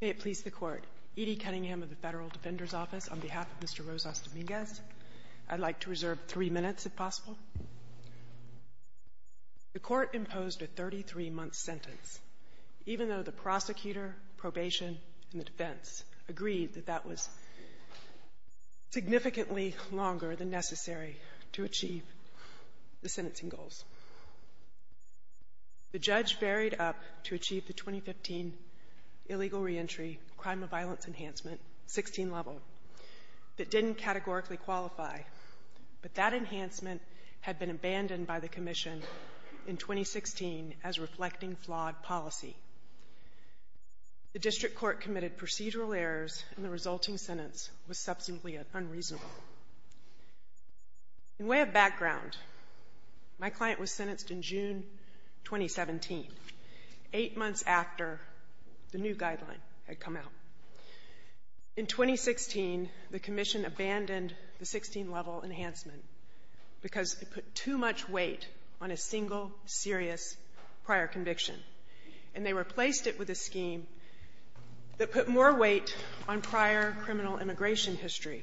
May it please the Court, Edie Cunningham of the Federal Defender's Office, on behalf of Mr. Rosas-Dominguez. I'd like to reserve three minutes, if possible. The Court imposed a 33-month sentence, even though the prosecutor, probation, and the defense agreed that that was significantly longer than necessary to achieve the sentencing goals. The judge varied up to achieve the 2015 illegal reentry crime of violence enhancement, 16-level, that didn't categorically qualify, but that enhancement had been abandoned by the commission in 2016 as reflecting flawed policy. The district court committed procedural errors, and the resulting sentence was substantially unreasonable. In way of background, my client was sentenced in June 2017, eight months after the new guideline had come out. In 2016, the commission abandoned the 16-level enhancement because it put too much weight on a single serious prior conviction, and they replaced it with a scheme that put more weight on prior criminal immigration history.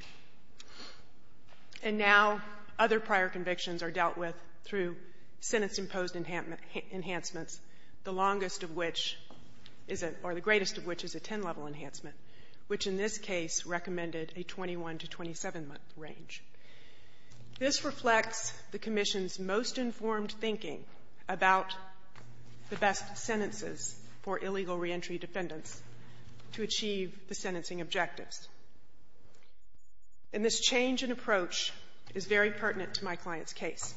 And now other prior convictions are dealt with through sentence-imposed enhancements, the longest of which is a — or the greatest of which is a 10-level enhancement, which in this case recommended a 21- to 27-month range. This reflects the commission's most informed thinking about the best sentences for illegal reentry defendants to achieve the sentencing objectives. And this change in approach is very pertinent to my client's case.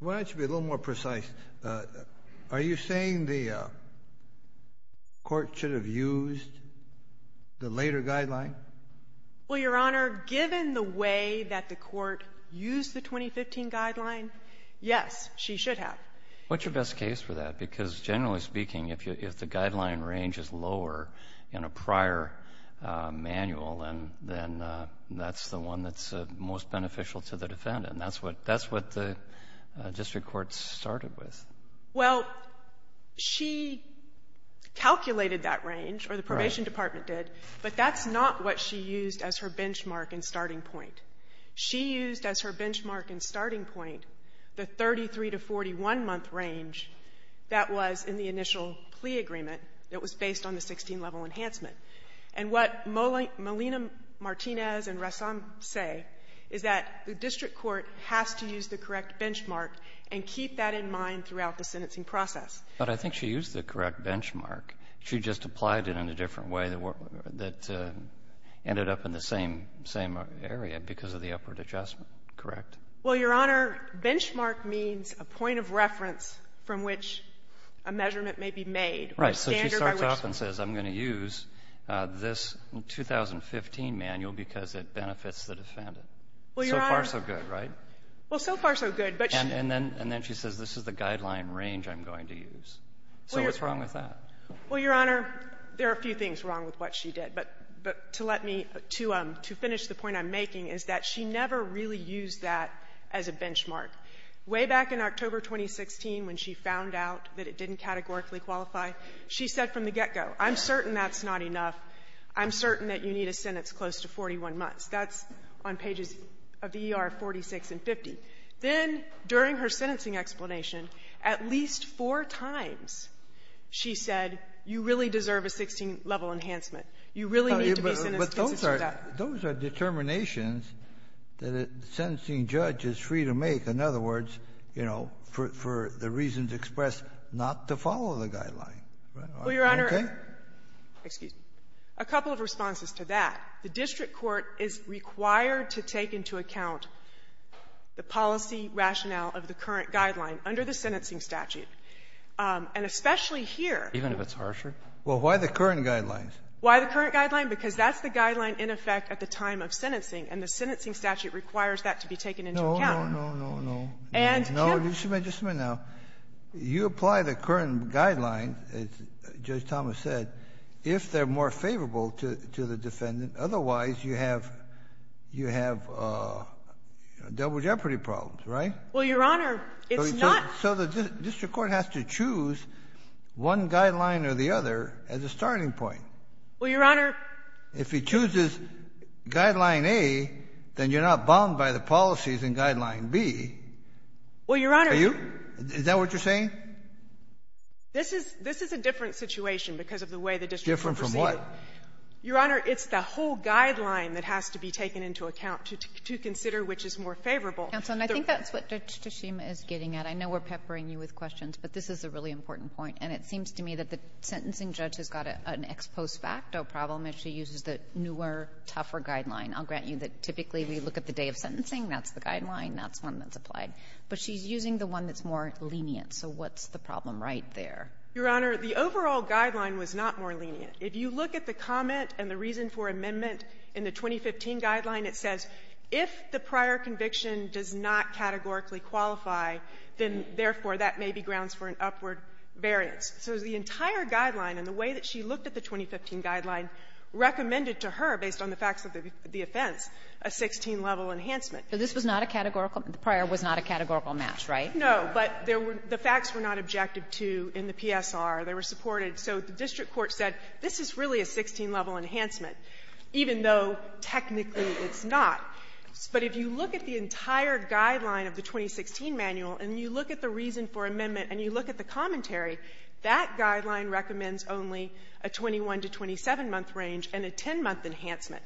Why don't you be a little more precise? Are you saying the Court should have used the later guideline? Well, Your Honor, given the way that the Court used the 2015 guideline, yes, she should have. What's your best case for that? Because generally speaking, if the guideline range is lower in a prior manual, then that's the one that's most beneficial to the defendant. And that's what the district court started with. Well, she calculated that range, or the Probation Department did, but that's not what she used as her benchmark and starting point. She used as her benchmark and starting point the 33- to 41-month range that was in the 16-level enhancement. And what Molina-Martinez and Resson say is that the district court has to use the correct benchmark and keep that in mind throughout the sentencing process. But I think she used the correct benchmark. She just applied it in a different way that ended up in the same area because of the upward adjustment, correct? Well, Your Honor, benchmark means a point of reference from which a measurement may be made. Right. So she starts off and says, I'm going to use this 2015 manual because it benefits the defendant. So far, so good, right? Well, Your Honor, so far, so good. And then she says, this is the guideline range I'm going to use. So what's wrong with that? Well, Your Honor, there are a few things wrong with what she did. But to let me to finish the point I'm making is that she never really used that as a benchmark. Way back in October 2016, when she found out that it didn't categorically qualify, she said from the get-go, I'm certain that's not enough. I'm certain that you need a sentence close to 41 months. That's on pages of the E.R. 46 and 50. Then, during her sentencing explanation, at least four times she said, you really deserve a 16-level enhancement. You really need to be sentenced to that. Those are determinations that a sentencing judge is free to make. In other words, you know, for the reasons expressed, not to follow the guideline. Are you okay? Well, Your Honor, excuse me, a couple of responses to that. The district court is required to take into account the policy rationale of the current guideline under the sentencing statute. And especially here — Even if it's harsher? Well, why the current guidelines? Why the current guideline? Because that's the guideline in effect at the time of sentencing. And the sentencing statute requires that to be taken into account. No, no, no, no, no. And can — No, just a minute, just a minute now. You apply the current guidelines, as Judge Thomas said, if they're more favorable to the defendant. Otherwise, you have double jeopardy problems, right? Well, Your Honor, it's not — So the district court has to choose one guideline or the other as a starting point. Well, Your Honor — If it chooses Guideline A, then you're not bound by the policies in Guideline B. Well, Your Honor — Are you? Is that what you're saying? This is — this is a different situation because of the way the district court perceives it. Different from what? Your Honor, it's the whole guideline that has to be taken into account to consider which is more favorable. Counsel, and I think that's what Judge Tshishima is getting at. I know we're peppering you with questions, but this is a really important point. And it seems to me that the sentencing judge has got an ex post facto problem if she uses the newer, tougher guideline. I'll grant you that typically we look at the day of sentencing, that's the guideline, that's one that's applied. But she's using the one that's more lenient. So what's the problem right there? Your Honor, the overall guideline was not more lenient. If you look at the comment and the reason for amendment in the 2015 guideline, it says, if the prior conviction does not categorically qualify, then, therefore, that may be grounds for an upward variance. So the entire guideline and the way that she looked at the 2015 guideline recommended to her, based on the facts of the offense, a 16-level enhancement. So this was not a categorical — the prior was not a categorical match, right? No. But there were — the facts were not objective to in the PSR. They were supported. So the district court said, this is really a 16-level enhancement, even though technically it's not. But if you look at the entire guideline of the 2016 manual and you look at the reason for amendment and you look at the commentary, that guideline recommends only a 21- to 27-month range and a 10-month enhancement.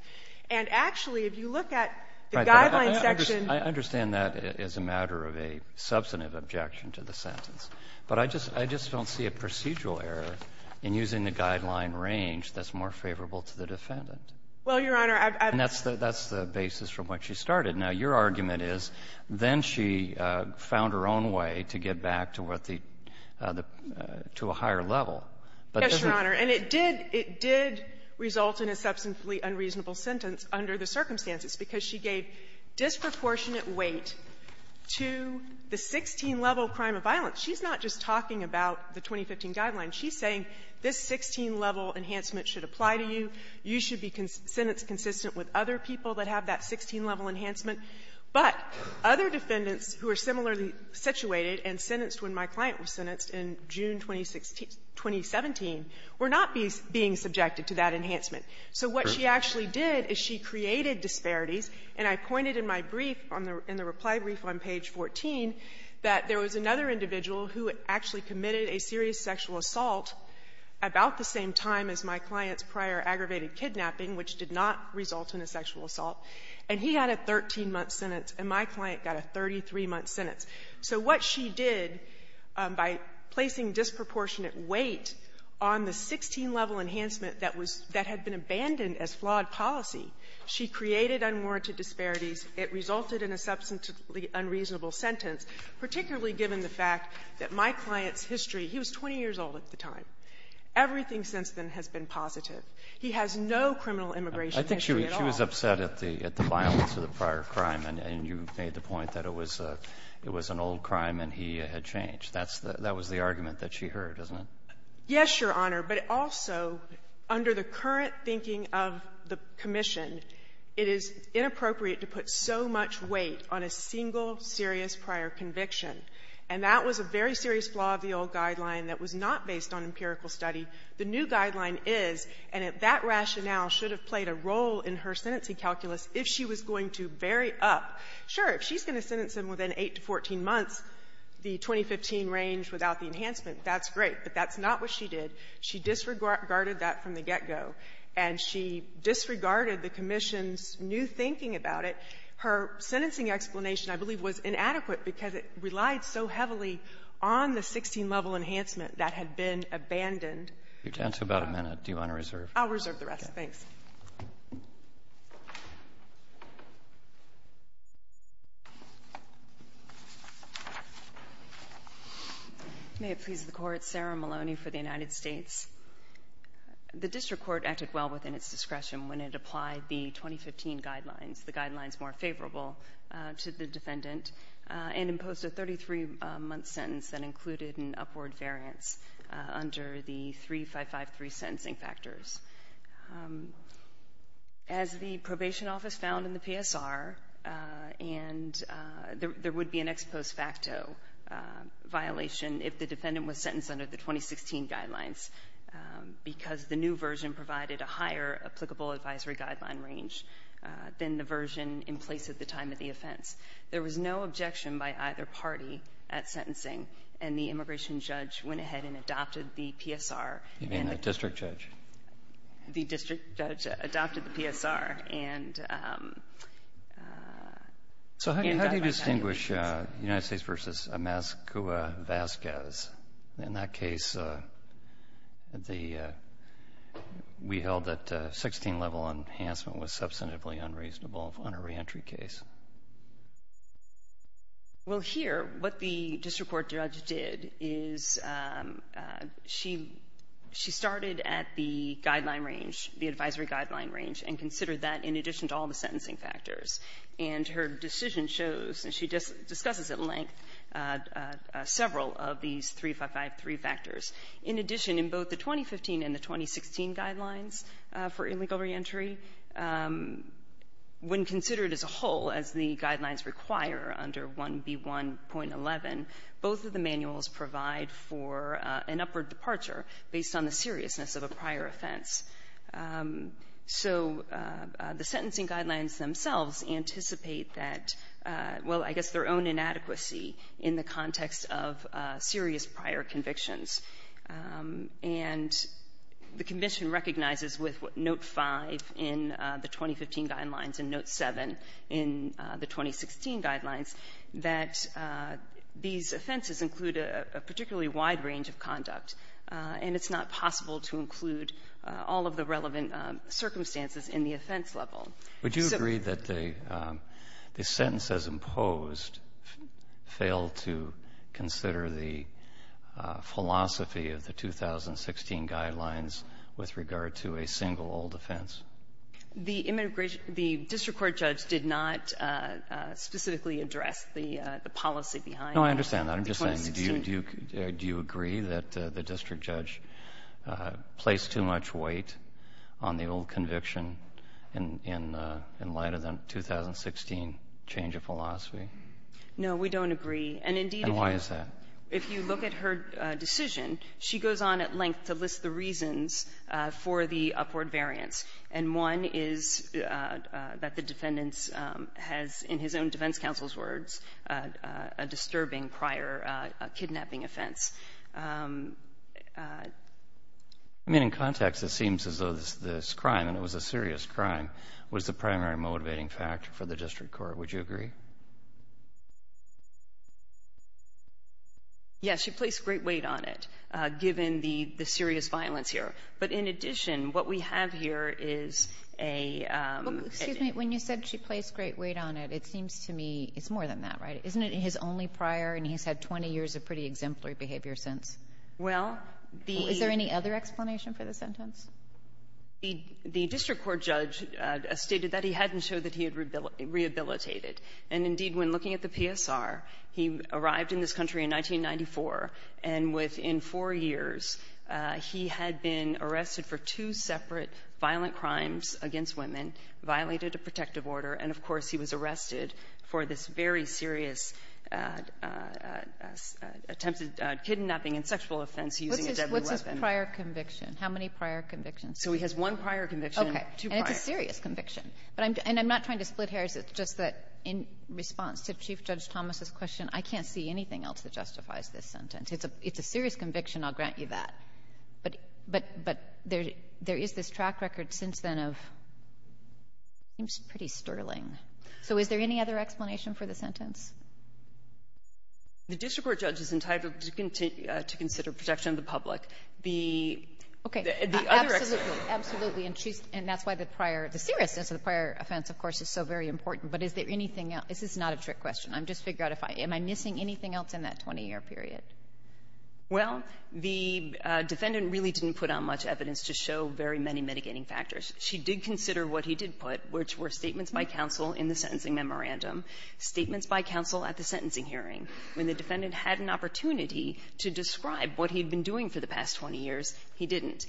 And, actually, if you look at the guideline section — I understand that as a matter of a substantive objection to the sentence. But I just — I just don't see a procedural error in using the guideline range that's more favorable to the defendant. Well, Your Honor, I've — And that's the basis from which she started. Now, your argument is, then she found her own way to get back to what the — to a higher level. Yes, Your Honor. And it did — it did result in a substantively unreasonable sentence under the circumstances, because she gave disproportionate weight to the 16-level crime of violence. She's not just talking about the 2015 guideline. She's saying this 16-level enhancement should apply to you. You should be sentenced consistent with other people that have that 16-level enhancement. But other defendants who are similarly situated and sentenced when my client was sentenced in June 2017 were not being subjected to that enhancement. So what she actually did is she created disparities. And I pointed in my brief on the — in the reply brief on page 14 that there was another individual who actually committed a serious sexual assault about the same time as my client, aggravated kidnapping, which did not result in a sexual assault. And he had a 13-month sentence, and my client got a 33-month sentence. So what she did, by placing disproportionate weight on the 16-level enhancement that was — that had been abandoned as flawed policy, she created unwarranted disparities. It resulted in a substantively unreasonable sentence, particularly given the fact that my client's history — he was 20 years old at the time. Everything since then has been positive. He has no criminal immigration history at all. Alitoson, I think she was upset at the violence of the prior crime, and you made the point that it was an old crime and he had changed. That's the — that was the argument that she heard, isn't it? Yes, Your Honor. But also, under the current thinking of the commission, it is inappropriate to put so much weight on a single serious prior conviction. And that was a very serious flaw of the old guideline that was not based on empirical study. The new guideline is, and that rationale should have played a role in her sentencing calculus if she was going to vary up. Sure, if she's going to sentence him within 8 to 14 months, the 2015 range without the enhancement, that's great. But that's not what she did. She disregarded that from the get-go. And she disregarded the commission's new thinking about it. Her sentencing explanation, I believe, was inadequate because it relied so heavily on the 16-level enhancement that had been abandoned. You're down to about a minute. Do you want to reserve? I'll reserve the rest. Thanks. May it please the Court. Sarah Maloney for the United States. The district court acted well within its discretion when it applied the 2015 guidelines, the guidelines more favorable to the defendant, and imposed a 33-month sentence that included an upward variance under the 3553 sentencing factors. As the probation office found in the PSR, and there would be an ex post facto violation if the defendant was sentenced under the 2016 guidelines because the new version in place at the time of the offense. There was no objection by either party at sentencing. And the immigration judge went ahead and adopted the PSR. You mean the district judge? The district judge adopted the PSR and adopted the PSR. So how do you distinguish United States v. Amascua-Vazquez? In that case, the we held that 16-level enhancement was substantively unreasonable on a reentry case. Well, here, what the district court judge did is she started at the guideline range, the advisory guideline range, and considered that in addition to all the sentencing factors. And her decision shows, and she discusses at length, several of these 3553 factors. In addition, in both the 2015 and the 2016 guidelines for illegal reentry, when considered as a whole, as the guidelines require under 1B1.11, both of the manuals provide for an upward departure based on the seriousness of a prior offense. So the sentencing guidelines themselves anticipate that, well, I guess their own inadequacy in the context of serious prior convictions. And the Convention recognizes with Note 5 in the 2015 guidelines and Note 7 in the 2016 guidelines that these offenses include a particularly wide range of conduct. And it's not possible to include all of the relevant circumstances in the offense level. Would you agree that the sentence as imposed failed to consider the philosophy of the 2016 guidelines with regard to a single old offense? The district court judge did not specifically address the policy behind the 2016. No, I understand that. I'm just saying, do you agree that the district judge placed too much weight on the single conviction in light of the 2016 change of philosophy? No, we don't agree. And, indeed, if you look at her decision, she goes on at length to list the reasons for the upward variance. And one is that the defendant has, in his own defense counsel's words, a disturbing prior kidnapping offense. I mean, in context, it seems as though this crime, and it was a serious crime, was the primary motivating factor for the district court. Would you agree? Yes, she placed great weight on it, given the serious violence here. But, in addition, what we have here is a... Excuse me. When you said she placed great weight on it, it seems to me it's more than that, right? Isn't it his only prior, and he's had 20 years of pretty exemplary behavior since? Well, the — Is there any other explanation for the sentence? The district court judge stated that he hadn't showed that he had rehabilitated. And, indeed, when looking at the PSR, he arrived in this country in 1994, and within four years, he had been arrested for two separate violent crimes against women, violated a protective order, and, of course, he was arrested for this very serious offense, attempted kidnapping and sexual offense using a deadly weapon. What's his prior conviction? How many prior convictions? So he has one prior conviction and two prior. Okay. And it's a serious conviction. But I'm — and I'm not trying to split hairs. It's just that in response to Chief Judge Thomas's question, I can't see anything else that justifies this sentence. It's a serious conviction, I'll grant you that. But there is this track record since then of — seems pretty sterling. So is there any other explanation for the sentence? The district court judge is entitled to consider protection of the public. The — Okay. The other explanation — Absolutely. And that's why the prior — the seriousness of the prior offense, of course, is so very important. But is there anything else? This is not a trick question. I'm just figuring out if I — am I missing anything else in that 20-year period? Well, the defendant really didn't put out much evidence to show very many mitigating factors. She did consider what he did put, which were statements by counsel in the sentencing memorandum, statements by counsel at the sentencing hearing. When the defendant had an opportunity to describe what he had been doing for the past 20 years, he didn't.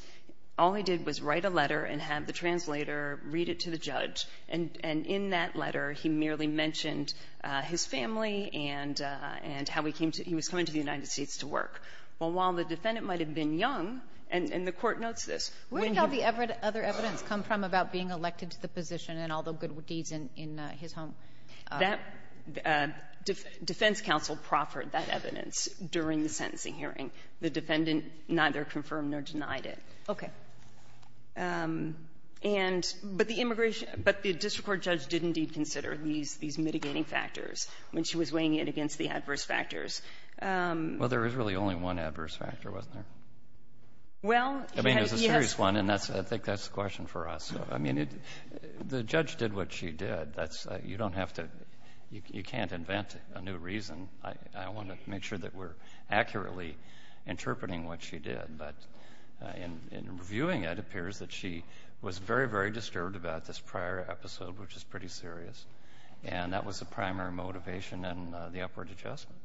All he did was write a letter and have the translator read it to the judge. And in that letter, he merely mentioned his family and how he came to — he was coming to the United States to work. While the defendant might have been young, and the court notes this, when he — Where did the other evidence come from about being elected to the position and all the good deeds in his home? That — defense counsel proffered that evidence during the sentencing hearing. The defendant neither confirmed nor denied it. Okay. And — but the immigration — but the district court judge did indeed consider these — these mitigating factors when she was weighing in against the adverse factors. Well, there was really only one adverse factor, wasn't there? Well, he had — Well, there was a serious one, and that's — I think that's the question for us. I mean, it — the judge did what she did. That's — you don't have to — you can't invent a new reason. I want to make sure that we're accurately interpreting what she did. But in reviewing it, it appears that she was very, very disturbed about this prior episode, which is pretty serious. And that was the primary motivation and the upward adjustment.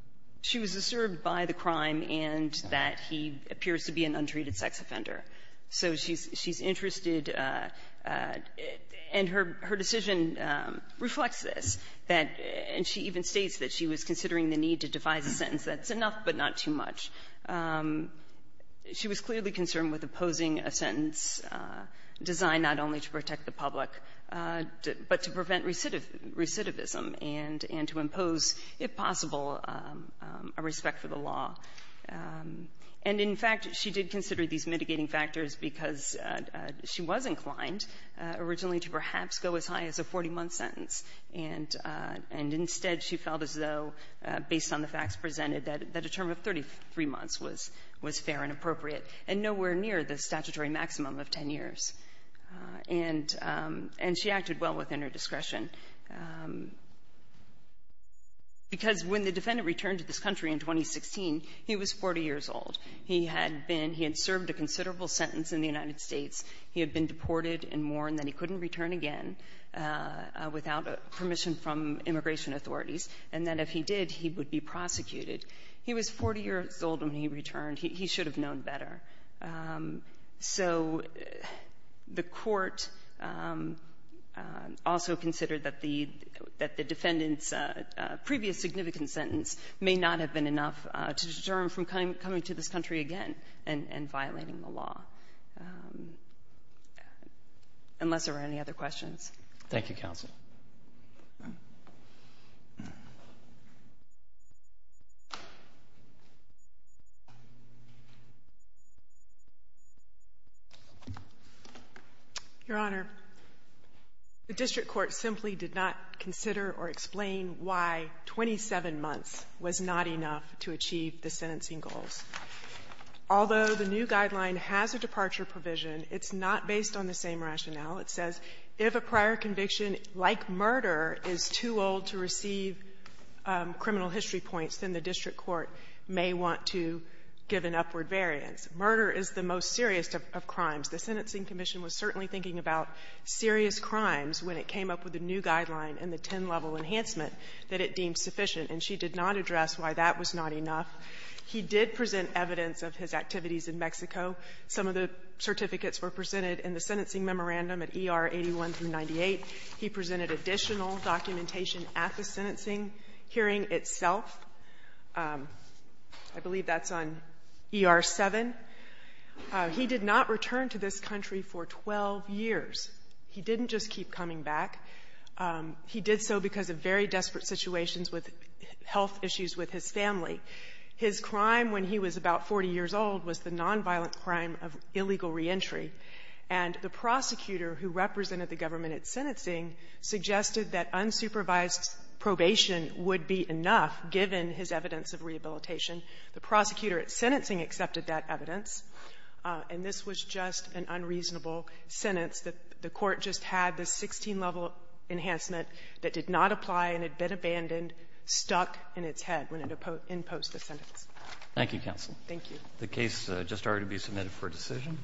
She was disturbed by the crime and that he appears to be an untreated sex offender. So she's — she's interested, and her — her decision reflects this, that — and she even states that she was considering the need to devise a sentence that's enough, but not too much. She was clearly concerned with opposing a sentence designed not only to protect the public, but to prevent recidivism and to impose, if possible, a respect for the law. And, in fact, she did consider these mitigating factors because she was inclined originally to perhaps go as high as a 40-month sentence. And — and instead, she felt as though, based on the facts presented, that a term of 33 months was — was fair and appropriate, and nowhere near the statutory maximum of 10 years. And — and she acted well within her discretion, because when the defendant returned to this country in 2016, he was 40 years old. He had been — he had served a considerable sentence in the United States. He had been deported and mourned that he couldn't return again without permission from immigration authorities, and that if he did, he would be prosecuted. He was 40 years old when he returned. He — he should have known better. So the Court also considered that the — that the defendant's previous significant sentence may not have been enough to deter him from coming to this country again and — and violating the law, unless there are any other questions. Thank you, counsel. Your Honor, the district court simply did not consider or explain why 27 months was not enough to achieve the sentencing goals. Although the new guideline has a departure provision, it's not based on the same rationale. It says, if a prior conviction, like murder, is too old to receive criminal history points, then the district court may want to give an upward variance. Murder is the most serious of — of crimes. The Sentencing Commission was certainly thinking about serious crimes when it came up with the new guideline and the 10-level enhancement that it deemed sufficient, and she did not address why that was not enough. He did present evidence of his activities in Mexico. Some of the certificates were presented in the sentencing memorandum at ER 81 through 98. He presented additional documentation at the sentencing hearing itself. I believe that's on ER 7. He did not return to this country for 12 years. He didn't just keep coming back. He did so because of very desperate situations with health issues with his family. His crime when he was about 40 years old was the nonviolent crime of illegal reentry, and the prosecutor who represented the government at sentencing suggested that unsupervised probation would be enough, given his evidence of rehabilitation. The prosecutor at sentencing accepted that evidence, and this was just an unreasonable sentence. The Court just had this 16-level enhancement that did not apply and had been abandoned, stuck in its head when it imposed the sentence. Roberts. Thank you, counsel. Thank you. The case just ordered to be submitted for decision.